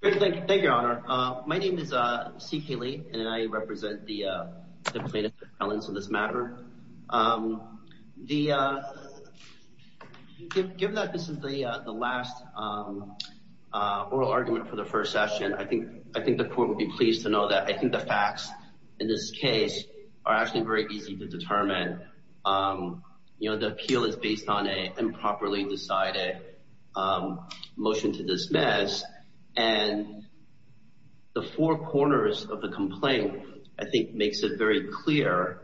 Thank you, Your Honor. My name is C. K. Lee, and I represent the plaintiff's appellants on this matter. Given that this is the last oral argument for the first session, I think the court would be pleased to know that I think the facts in this case are actually very easy to determine. You know, the appeal is based on an improperly decided motion to dismiss, and the four corners of the complaint, I think, makes it very clear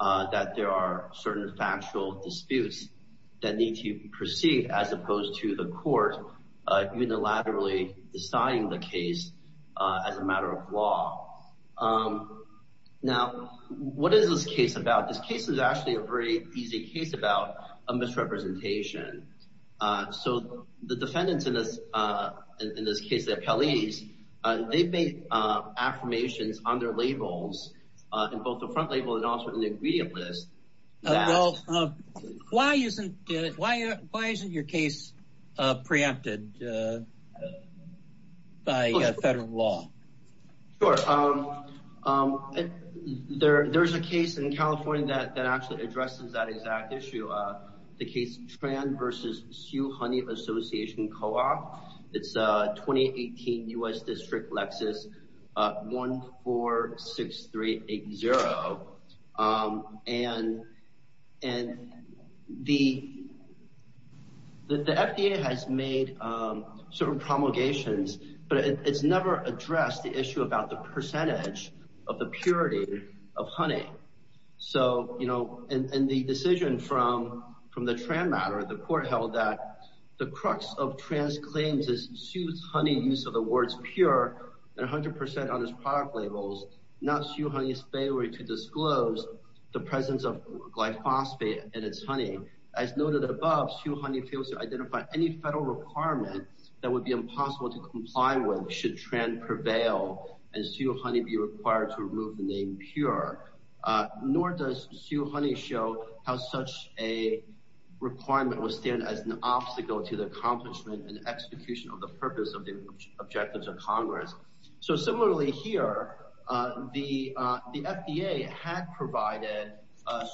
that there are certain factual disputes that need to proceed as opposed to the court unilaterally deciding the case as a matter of law. Now, what is this case about? This case is actually a very easy case about a misrepresentation. So the defendants in this case, the appellees, they made affirmations on their labels, on both the front label and also on the ingredient list. Well, why isn't your case preempted by federal law? Sure. There's a case in California that actually addresses that exact issue, the case Tran v. Sioux Honey Association Co-op. It's a 2018 U.S. District Lexus 146380, and the FDA has made certain promulgations, but it's never addressed the issue about the percentage of the purity of honey. So, you know, and the decision from the Tran matter, the court held that the crux of Tran's claims is Sioux's honey use of the words pure 100% on his product labels, not Sioux Honey's failure to disclose the presence of glyphosate in its honey. As noted above, Sioux Honey fails to identify any federal requirement that would be impossible to comply with should Tran prevail and Sioux Honey be required to remove the name pure. Nor does Sioux Honey show how such a requirement would stand as an obstacle to the accomplishment and execution of the purpose of the objectives of Congress. So similarly here, the FDA had provided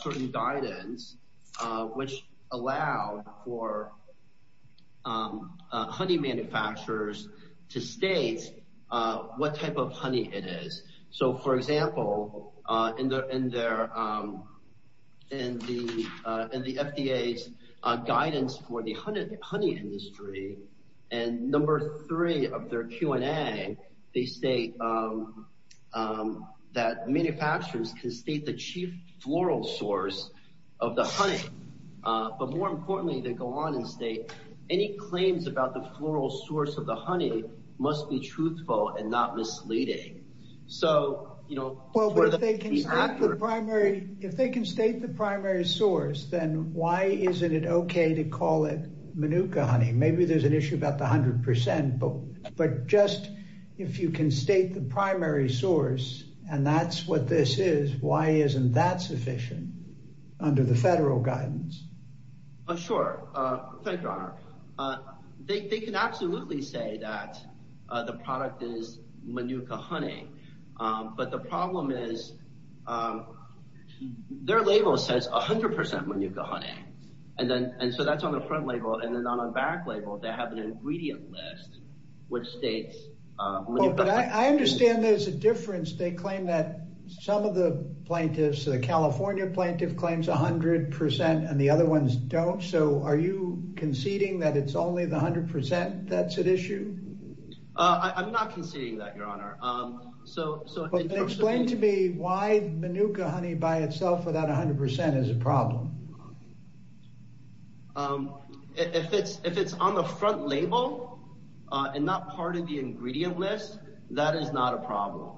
certain guidance which allowed for honey manufacturers to state what type of honey it is. So, for example, in the FDA's guidance for the honey industry and number three of their Q&A, they state that manufacturers can state the chief floral source of the honey, but more importantly, they go on and state any claims about the floral source of the honey must be truthful and not misleading. So, you know, if they can state the primary source, then why isn't it okay to call it Manuka honey? Maybe there's an issue about the 100%, but just if you can state the primary source and that's what this is, why isn't that sufficient under the federal guidance? Sure. Thank you, Your Honor. They can absolutely say that the product is Manuka honey, but the problem is their label says 100% Manuka honey. And so that's on the front label and then on the back label, they have an ingredient list which states Manuka honey. I understand there's a difference. They claim that some of the plaintiffs, the California plaintiff claims 100% and the other ones don't. So are you conceding that it's only the 100% that's at issue? I'm not conceding that, Your Honor. Explain to me why Manuka honey by itself without 100% is a problem. If it's if it's on the front label and not part of the ingredient list, that is not a problem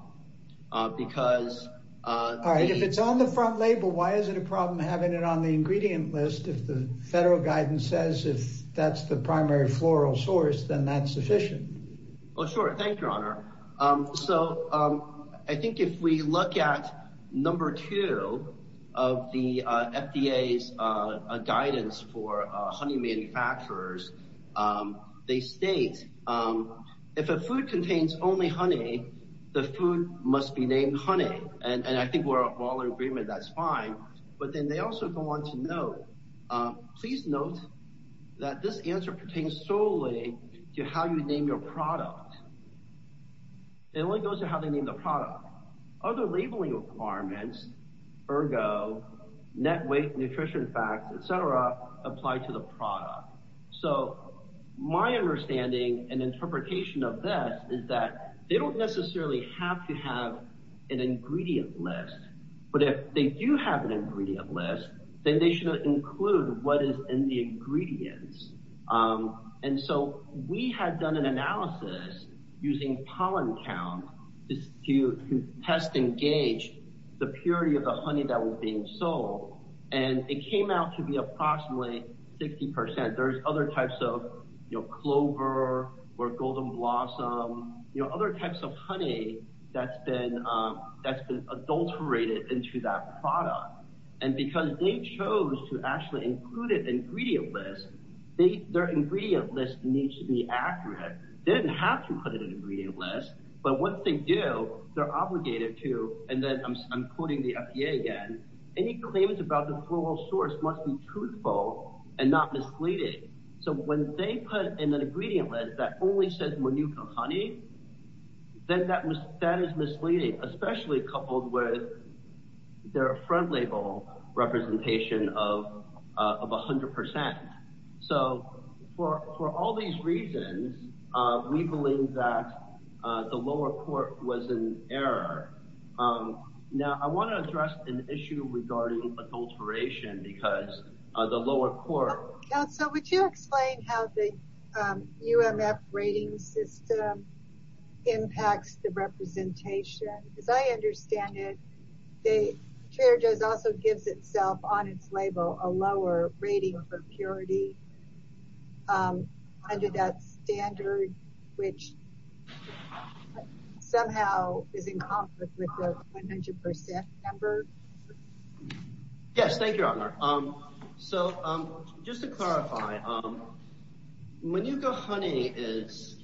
because... All right. If it's on the front label, why is it a problem having it on the ingredient list if the federal guidance says if that's the primary floral source, then that's sufficient? Oh, sure. Thank you, Your Honor. So I think if we look at number two of the FDA's guidance for honey manufacturers, they state if a food contains only honey, the food must be named honey. And I think we're all in agreement that's fine. But then they also go on to note, please note that this answer pertains solely to how you name your product. It only goes to how they name the product. Other labeling requirements, ergo net weight, nutrition facts, et cetera, apply to the product. So my understanding and interpretation of this is that they don't necessarily have to have an ingredient list. But if they do have an ingredient list, then they should include what is in the ingredients. And so we had done an analysis using pollen count to test and gauge the purity of the honey that was being sold. And it came out to be approximately 60 percent. There's other types of clover or golden blossom, other types of honey that's been adulterated into that product. And because they chose to actually include it in the ingredient list, their ingredient list needs to be accurate. They didn't have to put it in the ingredient list, but once they do, they're obligated to. And then I'm quoting the FDA again. Any claims about the floral source must be truthful and not misleading. So when they put in an ingredient list that only says Manuka honey, then that is misleading, especially coupled with their front label representation of 100 percent. So for all these reasons, we believe that the lower court was in error. Now, I want to address an issue regarding adulteration because of the lower court. So would you explain how the UMF rating system impacts the representation? As I understand it, Trader Joe's also gives itself on its label a lower rating for purity under that standard, which somehow is in conflict with the 100 percent number. Yes, thank you, Honor. So just to clarify, Manuka honey is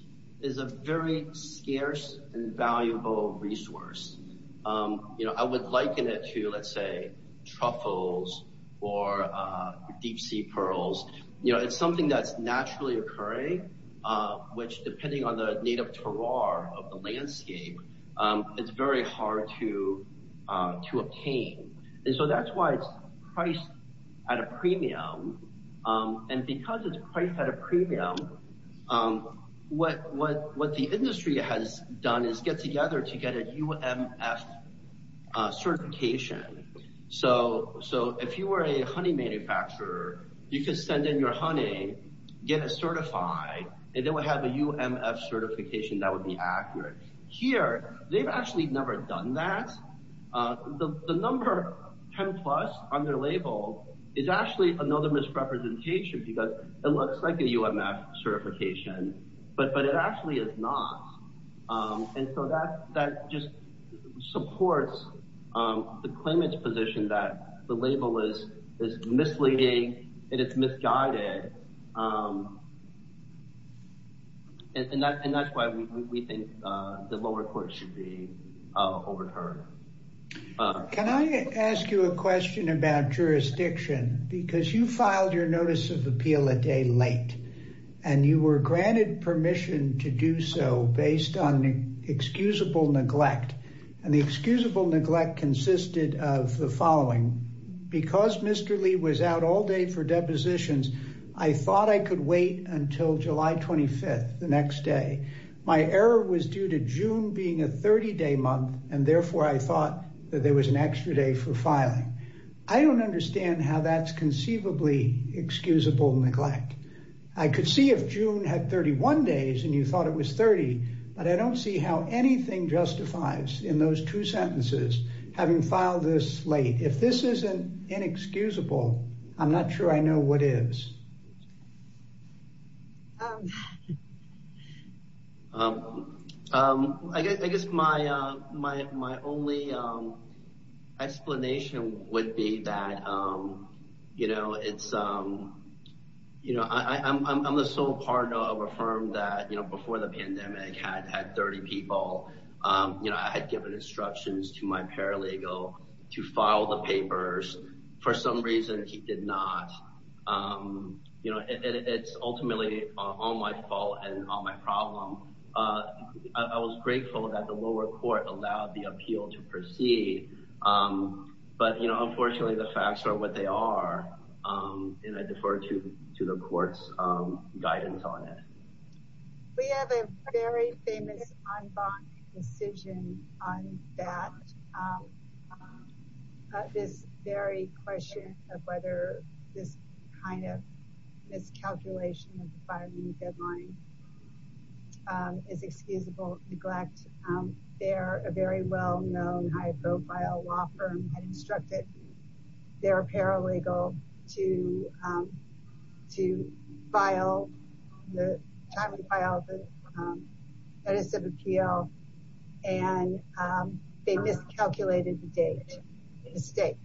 a very scarce and valuable resource. You know, I would liken it to, let's say, truffles or deep sea pearls. You know, it's something that's naturally occurring, which, depending on the native terroir of the landscape, it's very hard to obtain. And so that's why it's priced at a premium. And because it's priced at a premium, what the industry has done is get together to get a UMF certification. So if you were a honey manufacturer, you could send in your honey, get it certified, and they would have a UMF certification that would be accurate. Here, they've actually never done that. The number 10 plus on their label is actually another misrepresentation because it looks like a UMF certification, but it actually is not. And so that just supports the claimant's position that the label is misleading and it's misguided. And that's why we think the lower court should be overturned. Can I ask you a question about jurisdiction? Because you filed your notice of appeal a day late and you were granted permission to do so based on excusable neglect. And the excusable neglect consisted of the following. Because Mr. Lee was out all day for depositions, I thought I could wait until July 25th, the next day. My error was due to June being a 30-day month, and therefore I thought that there was an extra day for filing. I don't understand how that's conceivably excusable neglect. I could see if June had 31 days and you thought it was 30, but I don't see how anything justifies in those two sentences having filed this late. If this isn't inexcusable, I'm not sure I know what is. I guess my only explanation would be that I'm the sole partner of a firm that before the pandemic had 30 people. I had given instructions to my paralegal to file the papers. For some reason, he did not. It's ultimately all my fault and all my problem. I was grateful that the lower court allowed the appeal to proceed. But unfortunately, the facts are what they are, and I defer to the court's guidance on it. We have a very famous en banc decision on that. This very question of whether this kind of miscalculation of the filing deadline is excusable neglect. A very well-known, high-profile law firm had instructed their paralegal to file the notice of appeal, and they miscalculated the date. A mistake.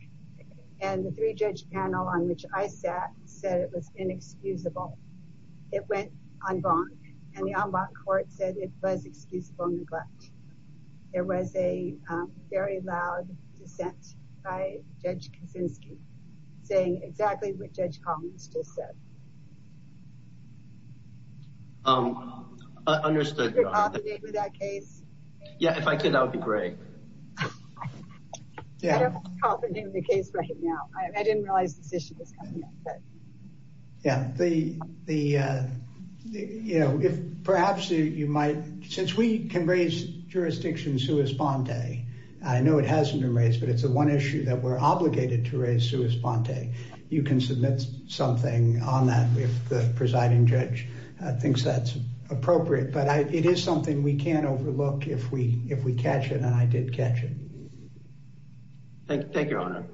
And the three-judge panel on which I sat said it was inexcusable. It went en banc, and the en banc court said it was excusable neglect. There was a very loud dissent by Judge Kaczynski, saying exactly what Judge Collins just said. I understood. Are you confident with that case? Yeah, if I could, that would be great. I don't have confidence in the case right now. I didn't realize this issue was coming up. Yeah. Since we can raise jurisdiction sua sponte, I know it hasn't been raised, but it's the one issue that we're obligated to raise sua sponte. You can submit something on that if the presiding judge thinks that's appropriate. But it is something we can't overlook if we catch it, and I did catch it. Thank you, Your Honor.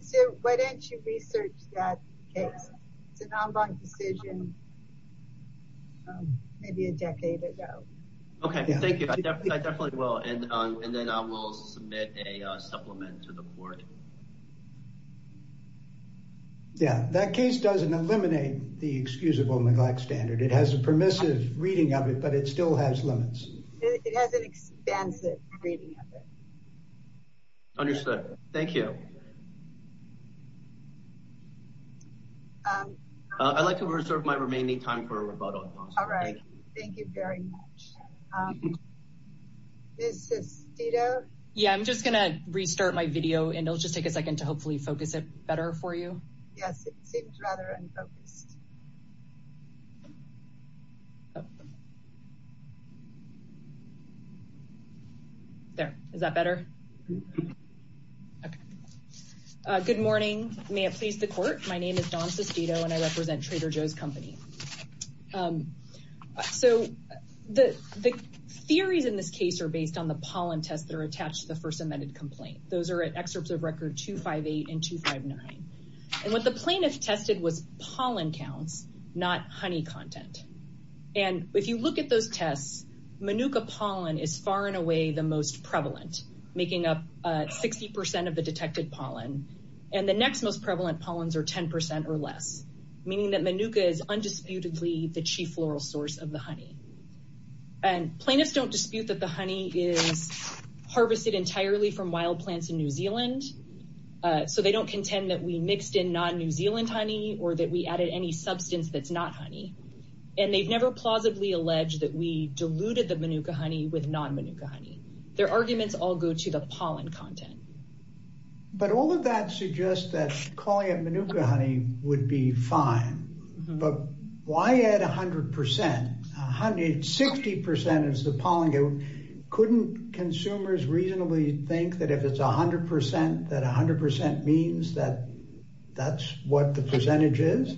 So why don't you research that case? It's an en banc decision maybe a decade ago. Okay, thank you. I definitely will, and then I will submit a supplement to the court. Yeah, that case doesn't eliminate the excusable neglect standard. It has a permissive reading of it, but it still has limits. It has an expansive reading of it. Understood. Thank you. I'd like to reserve my remaining time for a rebuttal. All right. Thank you very much. Yeah, I'm just going to restart my video, and it'll just take a second to hopefully focus it better for you. Yes, it seems rather unfocused. Oh. There. Is that better? Okay. Good morning. May it please the court. My name is Dawn Sestito, and I represent Trader Joe's Company. So the theories in this case are based on the pollen test that are attached to the first amended complaint. Those are excerpts of record 258 and 259. And what the plaintiff tested was pollen counts, not honey content. And if you look at those tests, manuka pollen is far and away the most prevalent, making up 60% of the detected pollen. And the next most prevalent pollens are 10% or less, meaning that manuka is undisputedly the chief floral source of the honey. And plaintiffs don't dispute that the honey is harvested entirely from wild plants in New Zealand. So they don't contend that we mixed in non-New Zealand honey or that we added any substance that's not honey. And they've never plausibly alleged that we diluted the manuka honey with non-manuka honey. Their arguments all go to the pollen content. But all of that suggests that calling it manuka honey would be fine. But why add 100%? 60% is the pollen count. Couldn't consumers reasonably think that if it's 100%, that 100% means that that's what the percentage is?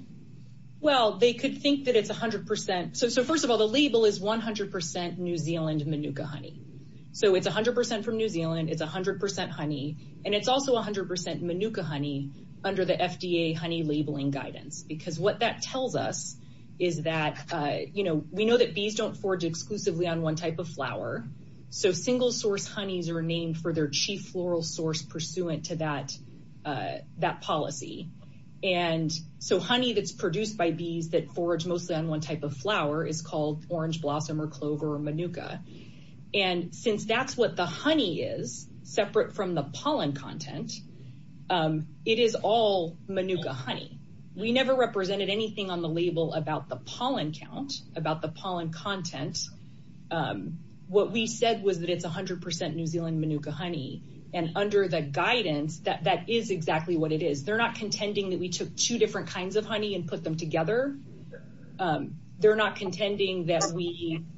Well, they could think that it's 100%. So first of all, the label is 100% New Zealand manuka honey. So it's 100% from New Zealand. It's 100% honey. And it's also 100% manuka honey under the FDA honey labeling guidance. Because what that tells us is that, you know, we know that bees don't forage exclusively on one type of flower. So single source honeys are named for their chief floral source pursuant to that policy. And so honey that's produced by bees that forage mostly on one type of flower is called orange blossom or clover or manuka. And since that's what the honey is, separate from the pollen content, it is all manuka honey. We never represented anything on the label about the pollen count, about the pollen content. What we said was that it's 100% New Zealand manuka honey. And under the guidance, that is exactly what it is. They're not contending that we took two different kinds of honey and put them together. They're not contending that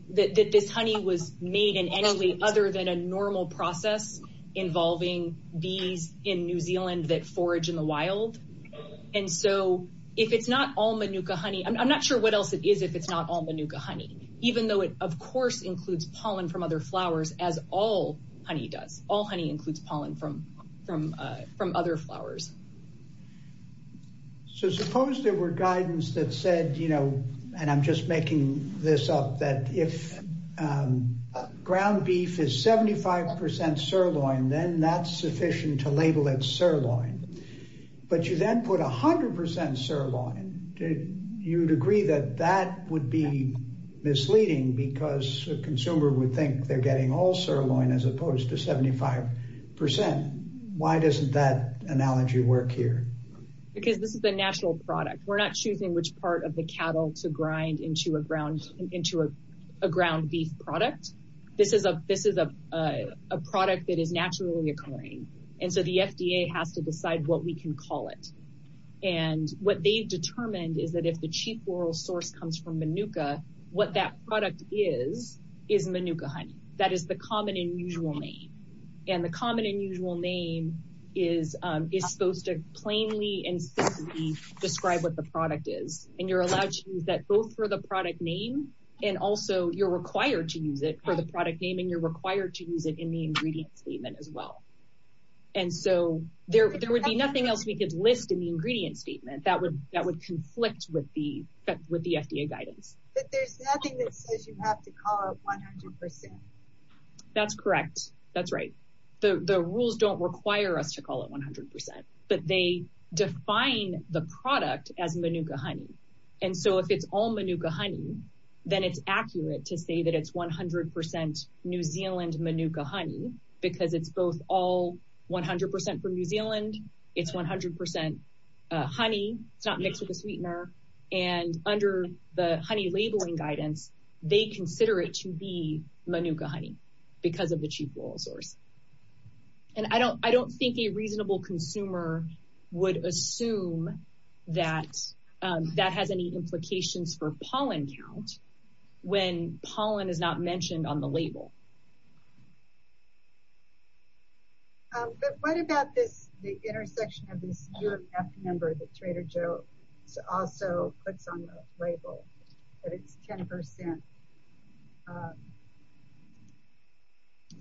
this honey was made in any way other than a normal process involving bees in New Zealand that forage in the wild. And so if it's not all manuka honey, I'm not sure what else it is if it's not all manuka honey, even though it, of course, includes pollen from other flowers, as all honey does. All honey includes pollen from other flowers. So suppose there were guidance that said, you know, and I'm just making this up, that if ground beef is 75% sirloin, then that's sufficient to label it sirloin. But you then put 100% sirloin, you'd agree that that would be misleading because a consumer would think they're getting all sirloin as opposed to 75%. Why doesn't that analogy work here? Because this is the natural product. We're not choosing which part of the cattle to grind into a ground beef product. This is a product that is naturally occurring. And so the FDA has to decide what we can call it. And what they've determined is that if the chief oral source comes from manuka, what that product is, is manuka honey. That is the common and usual name. And the common and usual name is supposed to plainly and simply describe what the product is. And you're allowed to use that both for the product name and also you're required to use it for the product name and you're required to use it in the ingredient statement as well. And so there would be nothing else we could list in the ingredient statement that would conflict with the FDA guidance. But there's nothing that says you have to call it 100%. That's correct. That's right. The rules don't require us to call it 100%. But they define the product as manuka honey. And so if it's all manuka honey, then it's accurate to say that it's 100% New Zealand manuka honey because it's both all 100% from New Zealand. It's 100% honey. It's not mixed with a sweetener. And under the honey labeling guidance, they consider it to be manuka honey because of the chief oral source. And I don't think a reasonable consumer would assume that that has any implications for pollen count when pollen is not mentioned on the label. But what about the intersection of this year F number that Trader Joe's also puts on the label that it's 10%?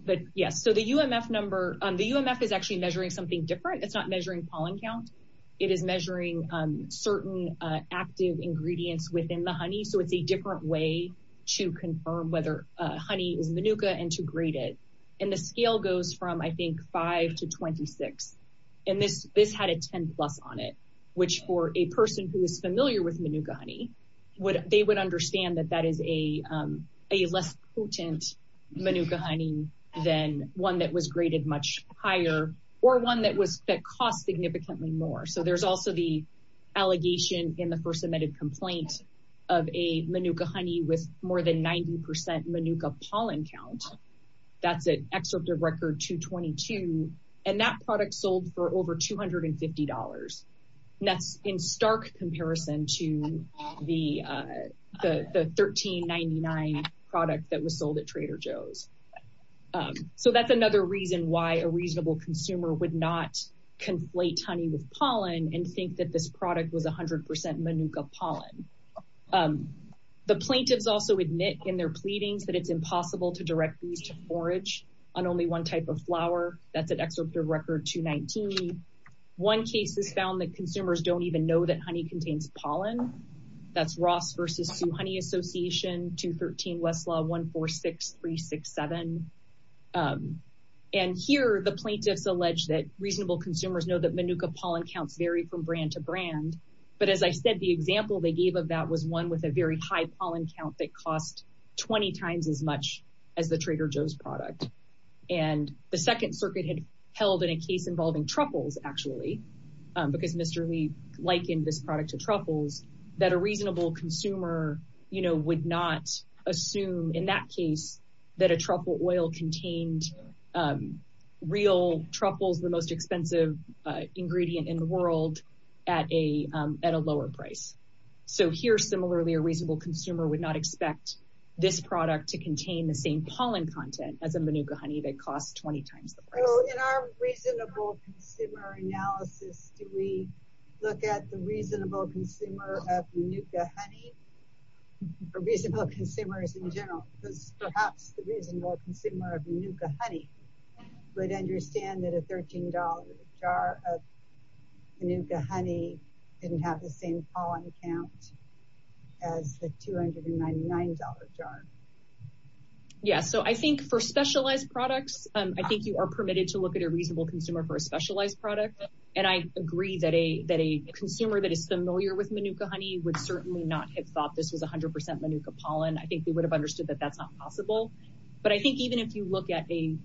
But yes, so the UMF number, the UMF is actually measuring something different. It's not measuring pollen count. It is measuring certain active ingredients within the honey. So it's a different way to confirm whether honey is manuka and to grade it. And the scale goes from, I think, 5 to 26. And this had a 10 plus on it, which for a person who is familiar with manuka honey, they would understand that that is a less potent manuka honey than one that was graded much higher or one that cost significantly more. So there's also the allegation in the first submitted complaint of a manuka honey with more than 90% manuka pollen count. That's an excerpt of record 222. And that product sold for over $250. And that's in stark comparison to the 1399 product that was sold at Trader Joe's. So that's another reason why a reasonable consumer would not conflate honey with pollen and think that this product was 100% manuka pollen. The plaintiffs also admit in their pleadings that it's impossible to direct bees to forage on only one type of flower. That's an excerpt of record 219. One case has found that consumers don't even know that honey contains pollen. That's Ross v. Sioux Honey Association, 213 Westlaw 146367. And here the plaintiffs allege that reasonable consumers know that manuka pollen counts vary from brand to brand. But as I said, the example they gave of that was one with a very high pollen count that cost 20 times as much as the Trader Joe's product. And the Second Circuit had held in a case involving truffles, actually, because Mr. Lee likened this product to truffles, that a reasonable consumer would not assume in that case that a truffle oil contained real truffles, the most expensive ingredient in the world, at a lower price. So here, similarly, a reasonable consumer would not expect this product to contain the same pollen content as a manuka honey that costs 20 times the price. So in our reasonable consumer analysis, do we look at the reasonable consumer of manuka honey, or reasonable consumers in general, because perhaps the reasonable consumer of manuka honey would understand that a $13 jar of manuka honey didn't have the same pollen count as the $299 jar? Yes, so I think for specialized products, I think you are permitted to look at a reasonable consumer for a specialized product. And I agree that a consumer that is familiar with manuka honey would certainly not have thought this was 100% manuka pollen. I think they would have understood that that's not possible. But I think even if you look at a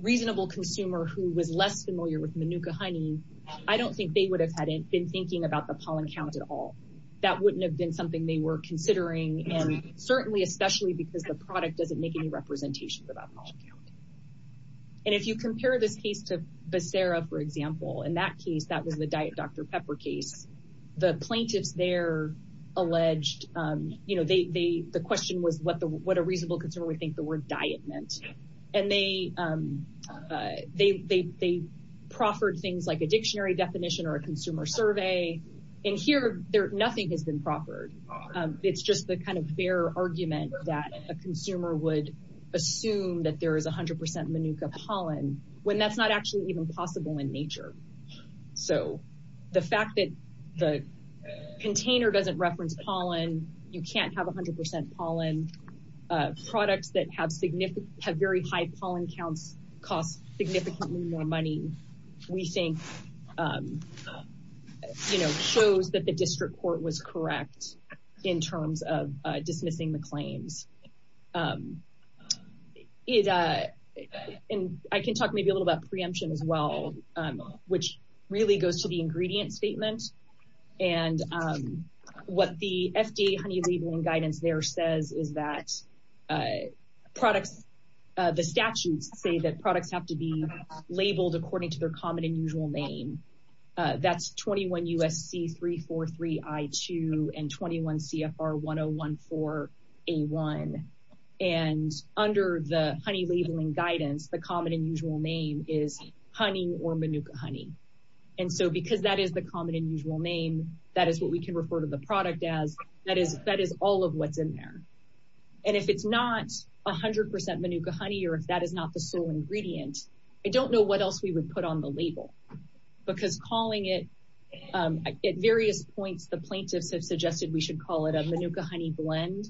reasonable consumer who was less familiar with manuka honey, I don't think they would have been thinking about the pollen count at all. That wouldn't have been something they were considering, and certainly, especially because the product doesn't make any representations about pollen count. And if you compare this case to Becerra, for example, in that case, that was the Diet Dr. Pepper case, the plaintiffs there alleged, the question was what a reasonable consumer would think the word diet meant. And they proffered things like a dictionary definition or a consumer survey. And here, nothing has been proffered. It's just the kind of fair argument that a consumer would assume that there is 100% manuka pollen, when that's not actually even possible in nature. So the fact that the container doesn't reference pollen, you can't have 100% pollen, products that have very high pollen counts cost significantly more money, we think shows that the district court was correct in terms of dismissing the claims. I can talk maybe a little about preemption as well, which really goes to the ingredient statement. And what the FDA honey labeling guidance there says is that products, the statutes say that products have to be labeled according to their common and usual name. That's 21 USC 343 I2 and 21 CFR 1014 A1. And under the honey labeling guidance, the common and usual name is honey or manuka honey. And so because that is the common and usual name, that is what we can refer to the product as, that is all of what's in there. And if it's not 100% manuka honey, or if that is not the sole ingredient, I don't know what else we would put on the label because calling it at various points, the plaintiffs have suggested we should call it a manuka honey blend,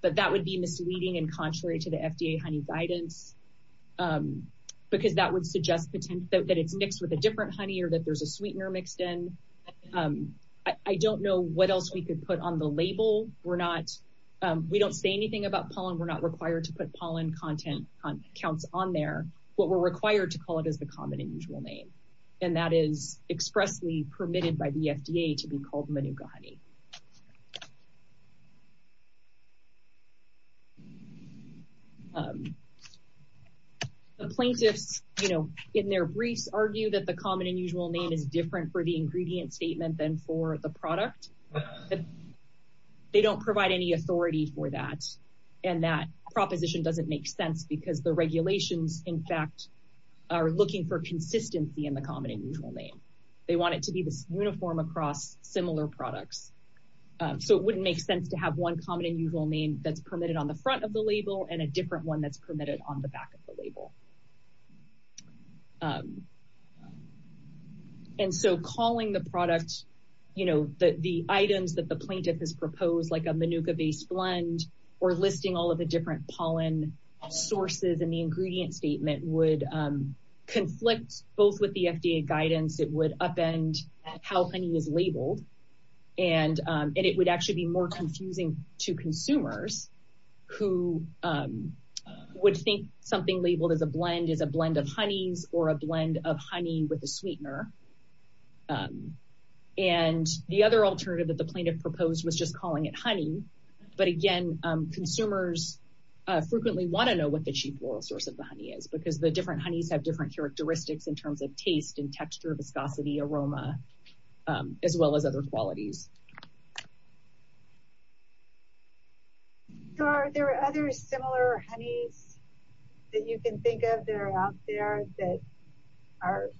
but that would be misleading and contrary to the FDA honey guidance, because that would suggest that it's mixed with a different honey or that there's a sweetener mixed in. I don't know what else we could put on the label. We're not, we don't say anything about pollen. We're not required to put pollen content counts on there. What we're required to call it is the common and usual name. And that is expressly permitted by the FDA to be called manuka honey. The plaintiffs, you know, in their briefs, argue that the common and usual name is different for the ingredient statement than for the product. They don't provide any authority for that. And that proposition doesn't make sense because the regulations, in fact, are looking for consistency in the common and usual name. They want it to be this uniform across similar products. So it wouldn't make sense to have one common and usual name that's permitted on the front of the label and a different one that's permitted on the back of the label. And so calling the product, you know, the items that the plaintiff has proposed, like a manuka-based blend, or listing all of the different pollen sources in the ingredient statement, would conflict both with the FDA guidance. It would upend how honey is labeled. And it would actually be more confusing to consumers who would think something labeled as a blend is a blend of honeys or a blend of honey with a sweetener. And the other alternative that the plaintiff proposed was just calling it honey. But again, consumers frequently want to know what the cheap oral source of the honey is because the different honeys have different characteristics in terms of taste and texture, viscosity, aroma, as well as other qualities. Are there other similar honeys that you can think of that are out there that are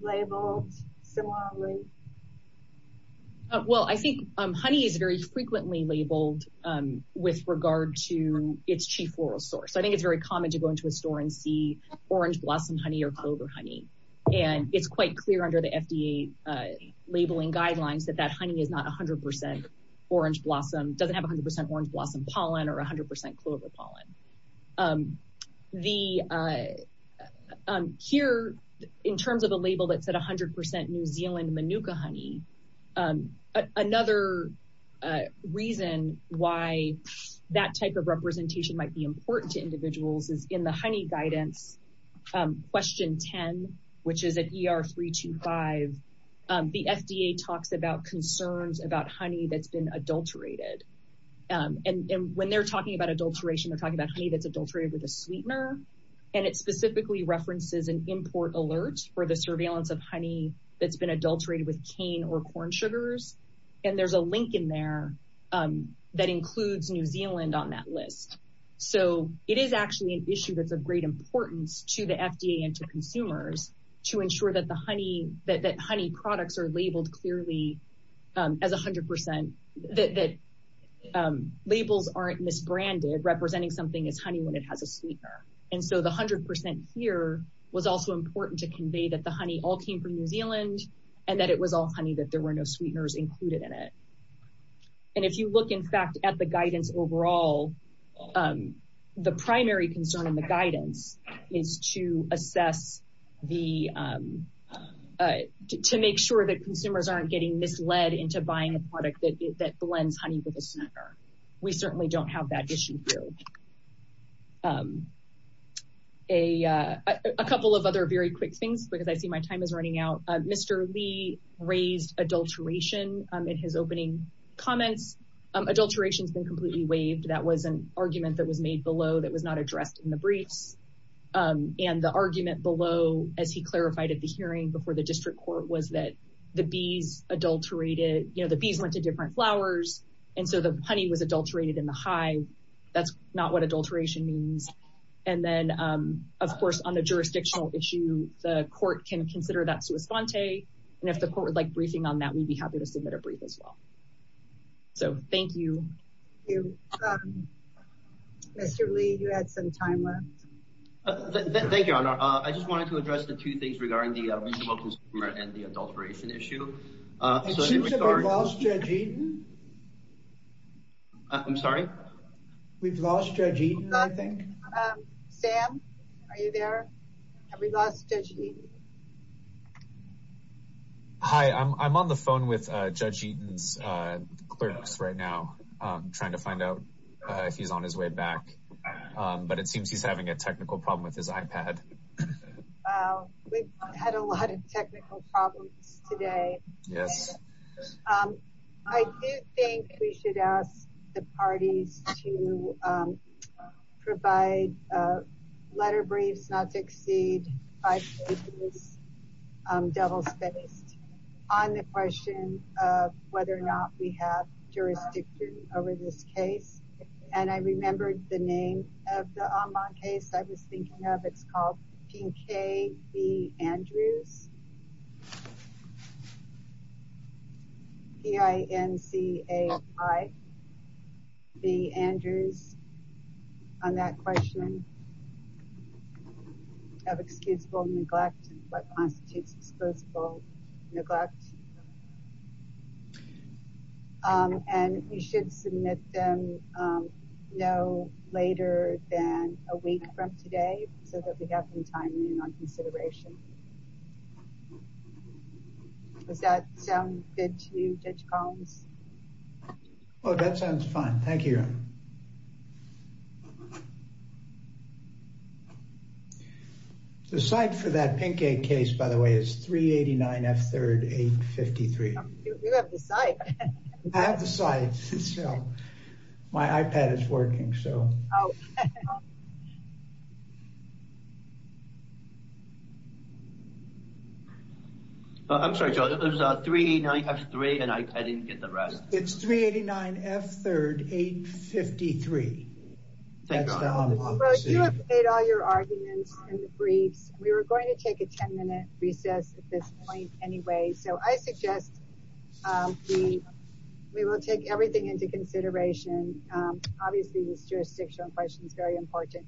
labeled similarly? Well, I think honey is very frequently labeled with regard to its cheap oral source. I think it's very common to go into a store and see orange blossom honey or clover honey. And it's quite clear under the FDA labeling guidelines that that honey is not 100% orange blossom, doesn't have 100% orange blossom pollen or 100% clover pollen. Here, in terms of a label that said 100% New Zealand manuka honey, another reason why that type of representation might be important to individuals is in the honey guidance question 10, which is at ER 325, the FDA talks about concerns about honey that's been adulterated. And when they're talking about adulteration, they're talking about honey that's adulterated with a sweetener. And it specifically references an import alert for the surveillance of honey that's been adulterated with cane or corn sugars. And there's a link in there that includes New Zealand on that list. So it is actually an issue that's of great importance to the FDA and to consumers to ensure that honey products are labeled clearly as 100%, that labels aren't misbranded representing something as honey when it has a sweetener. And so the 100% here was also important to convey that the honey all came from New Zealand and that it was all honey, that there were no sweeteners included in it. And if you look, in fact, at the guidance overall, the primary concern in the guidance is to assess the, to make sure that consumers aren't getting misled into buying a product that blends honey with a sweetener. We certainly don't have that issue here. A couple of other very quick things, because I see my time is running out. Mr. Lee raised adulteration in his opening comments. Adulteration has been completely waived. That was an argument that was made below that was not addressed in the briefs. And the argument below, as he clarified at the hearing before the district court, was that the bees adulterated, you know, the bees went to different flowers. And so the honey was adulterated in the hive. That's not what adulteration means. And then, of course, on the jurisdictional issue, the court can consider that sua sponte. And if the court would like briefing on that, we'd be happy to submit a brief as well. So thank you. Mr. Lee, you had some time left. Thank you. I just wanted to address the two things regarding the consumer and the adulteration issue. It seems that we've lost Judge Eaton. I'm sorry? We've lost Judge Eaton, I think. Sam, are you there? Have we lost Judge Eaton? Hi. I'm on the phone with Judge Eaton's clerks right now, trying to find out if he's on his way back. But it seems he's having a technical problem with his iPad. Wow. We've had a lot of technical problems today. Yes. I do think we should ask the parties to provide letter briefs, not to exceed five pages, double spaced, on the question of whether or not we have jurisdiction over this case. And I remembered the name of the online case I was thinking of. It's called P. K. B. Andrews, P-I-N-C-A-Y, B. Andrews, on that question of excusable neglect and what constitutes excusable neglect. And we should submit them no later than a week from today, so that we have some time on consideration. Does that sound good to you, Judge Collins? Oh, that sounds fine. Thank you. Thank you. The site for that P. K. case, by the way, is 389 F. 3rd, 853. You have the site. I have the site. My iPad is working, so. Oh. I'm sorry, Judge. It was 389 F. 3rd, and I didn't get the rest. It's 389 F. 3rd, 853. You have made all your arguments in the briefs. We were going to take a ten minute recess at this point anyway, so I suggest we will take everything into consideration. Obviously, this jurisdictional question is very important.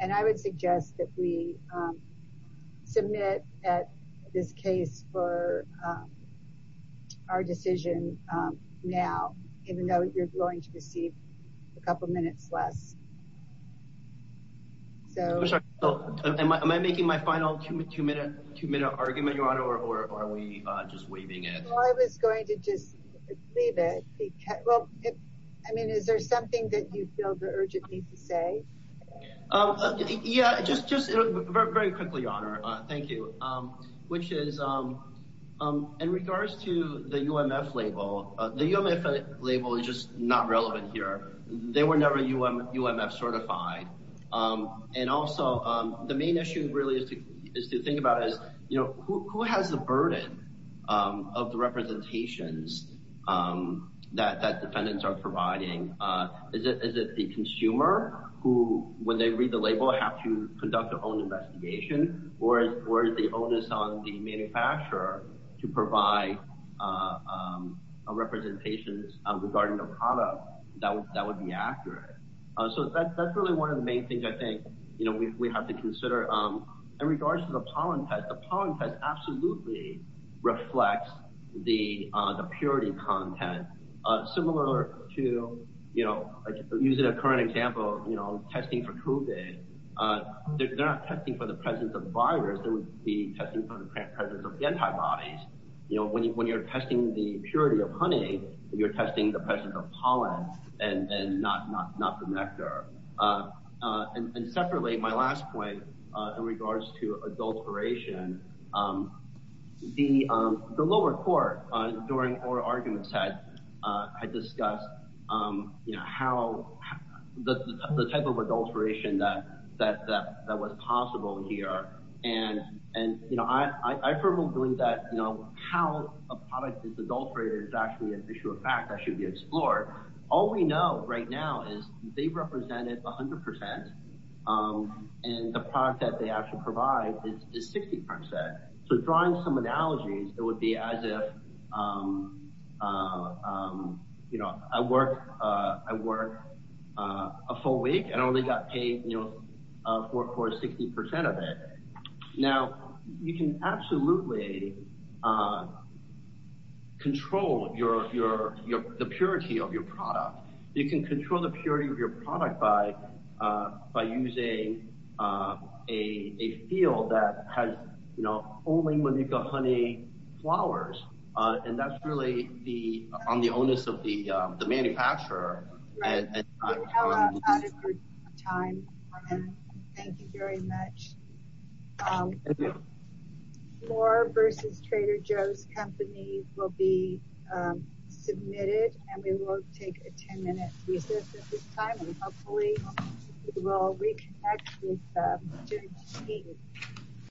And I would suggest that we submit this case for our decision now, even though you're going to receive a couple minutes less. So am I making my final two minute argument, Your Honor, or are we just waiving it? I was going to just leave it. Well, I mean, is there something that you feel the urgent need to say? Yeah, just very quickly, Your Honor. Thank you. Which is in regards to the UMF label, the UMF label is just not relevant here. They were never UMF certified. And also, the main issue really is to think about is, you know, who has the burden of the representations that defendants are providing? Is it the consumer who, when they read the label, have to conduct their own investigation? Or is the onus on the manufacturer to provide a representation regarding the product that would be accurate? So that's really one of the main things I think, you know, we have to consider. In regards to the pollen test, the pollen test absolutely reflects the purity content. Similar to, you know, using a current example, you know, testing for COVID, they're not testing for the presence of virus. They would be testing for the presence of antibodies. You know, when you're testing the purity of honey, you're testing the presence of pollen and not the nectar. And separately, my last point in regards to adulteration, the lower court during oral arguments had discussed, you know, how the type of adulteration that was possible here. And, you know, I for one believe that, you know, how a product is adulterated is actually an issue of fact that should be explored. All we know right now is they represented 100%, and the product that they actually provide is 60%. So drawing some analogies, it would be as if, you know, I work a full week and only got paid, you know, for 60% of it. Now, you can absolutely control the purity of your product. You can control the purity of your product by using a field that has, you know, only when you've got honey flowers. And that's really on the onus of the manufacturer. Thank you very much. More versus Trader Joe's company will be submitted, and we will take a 10-minute recess at this time, and hopefully we will reconnect with them during the meeting.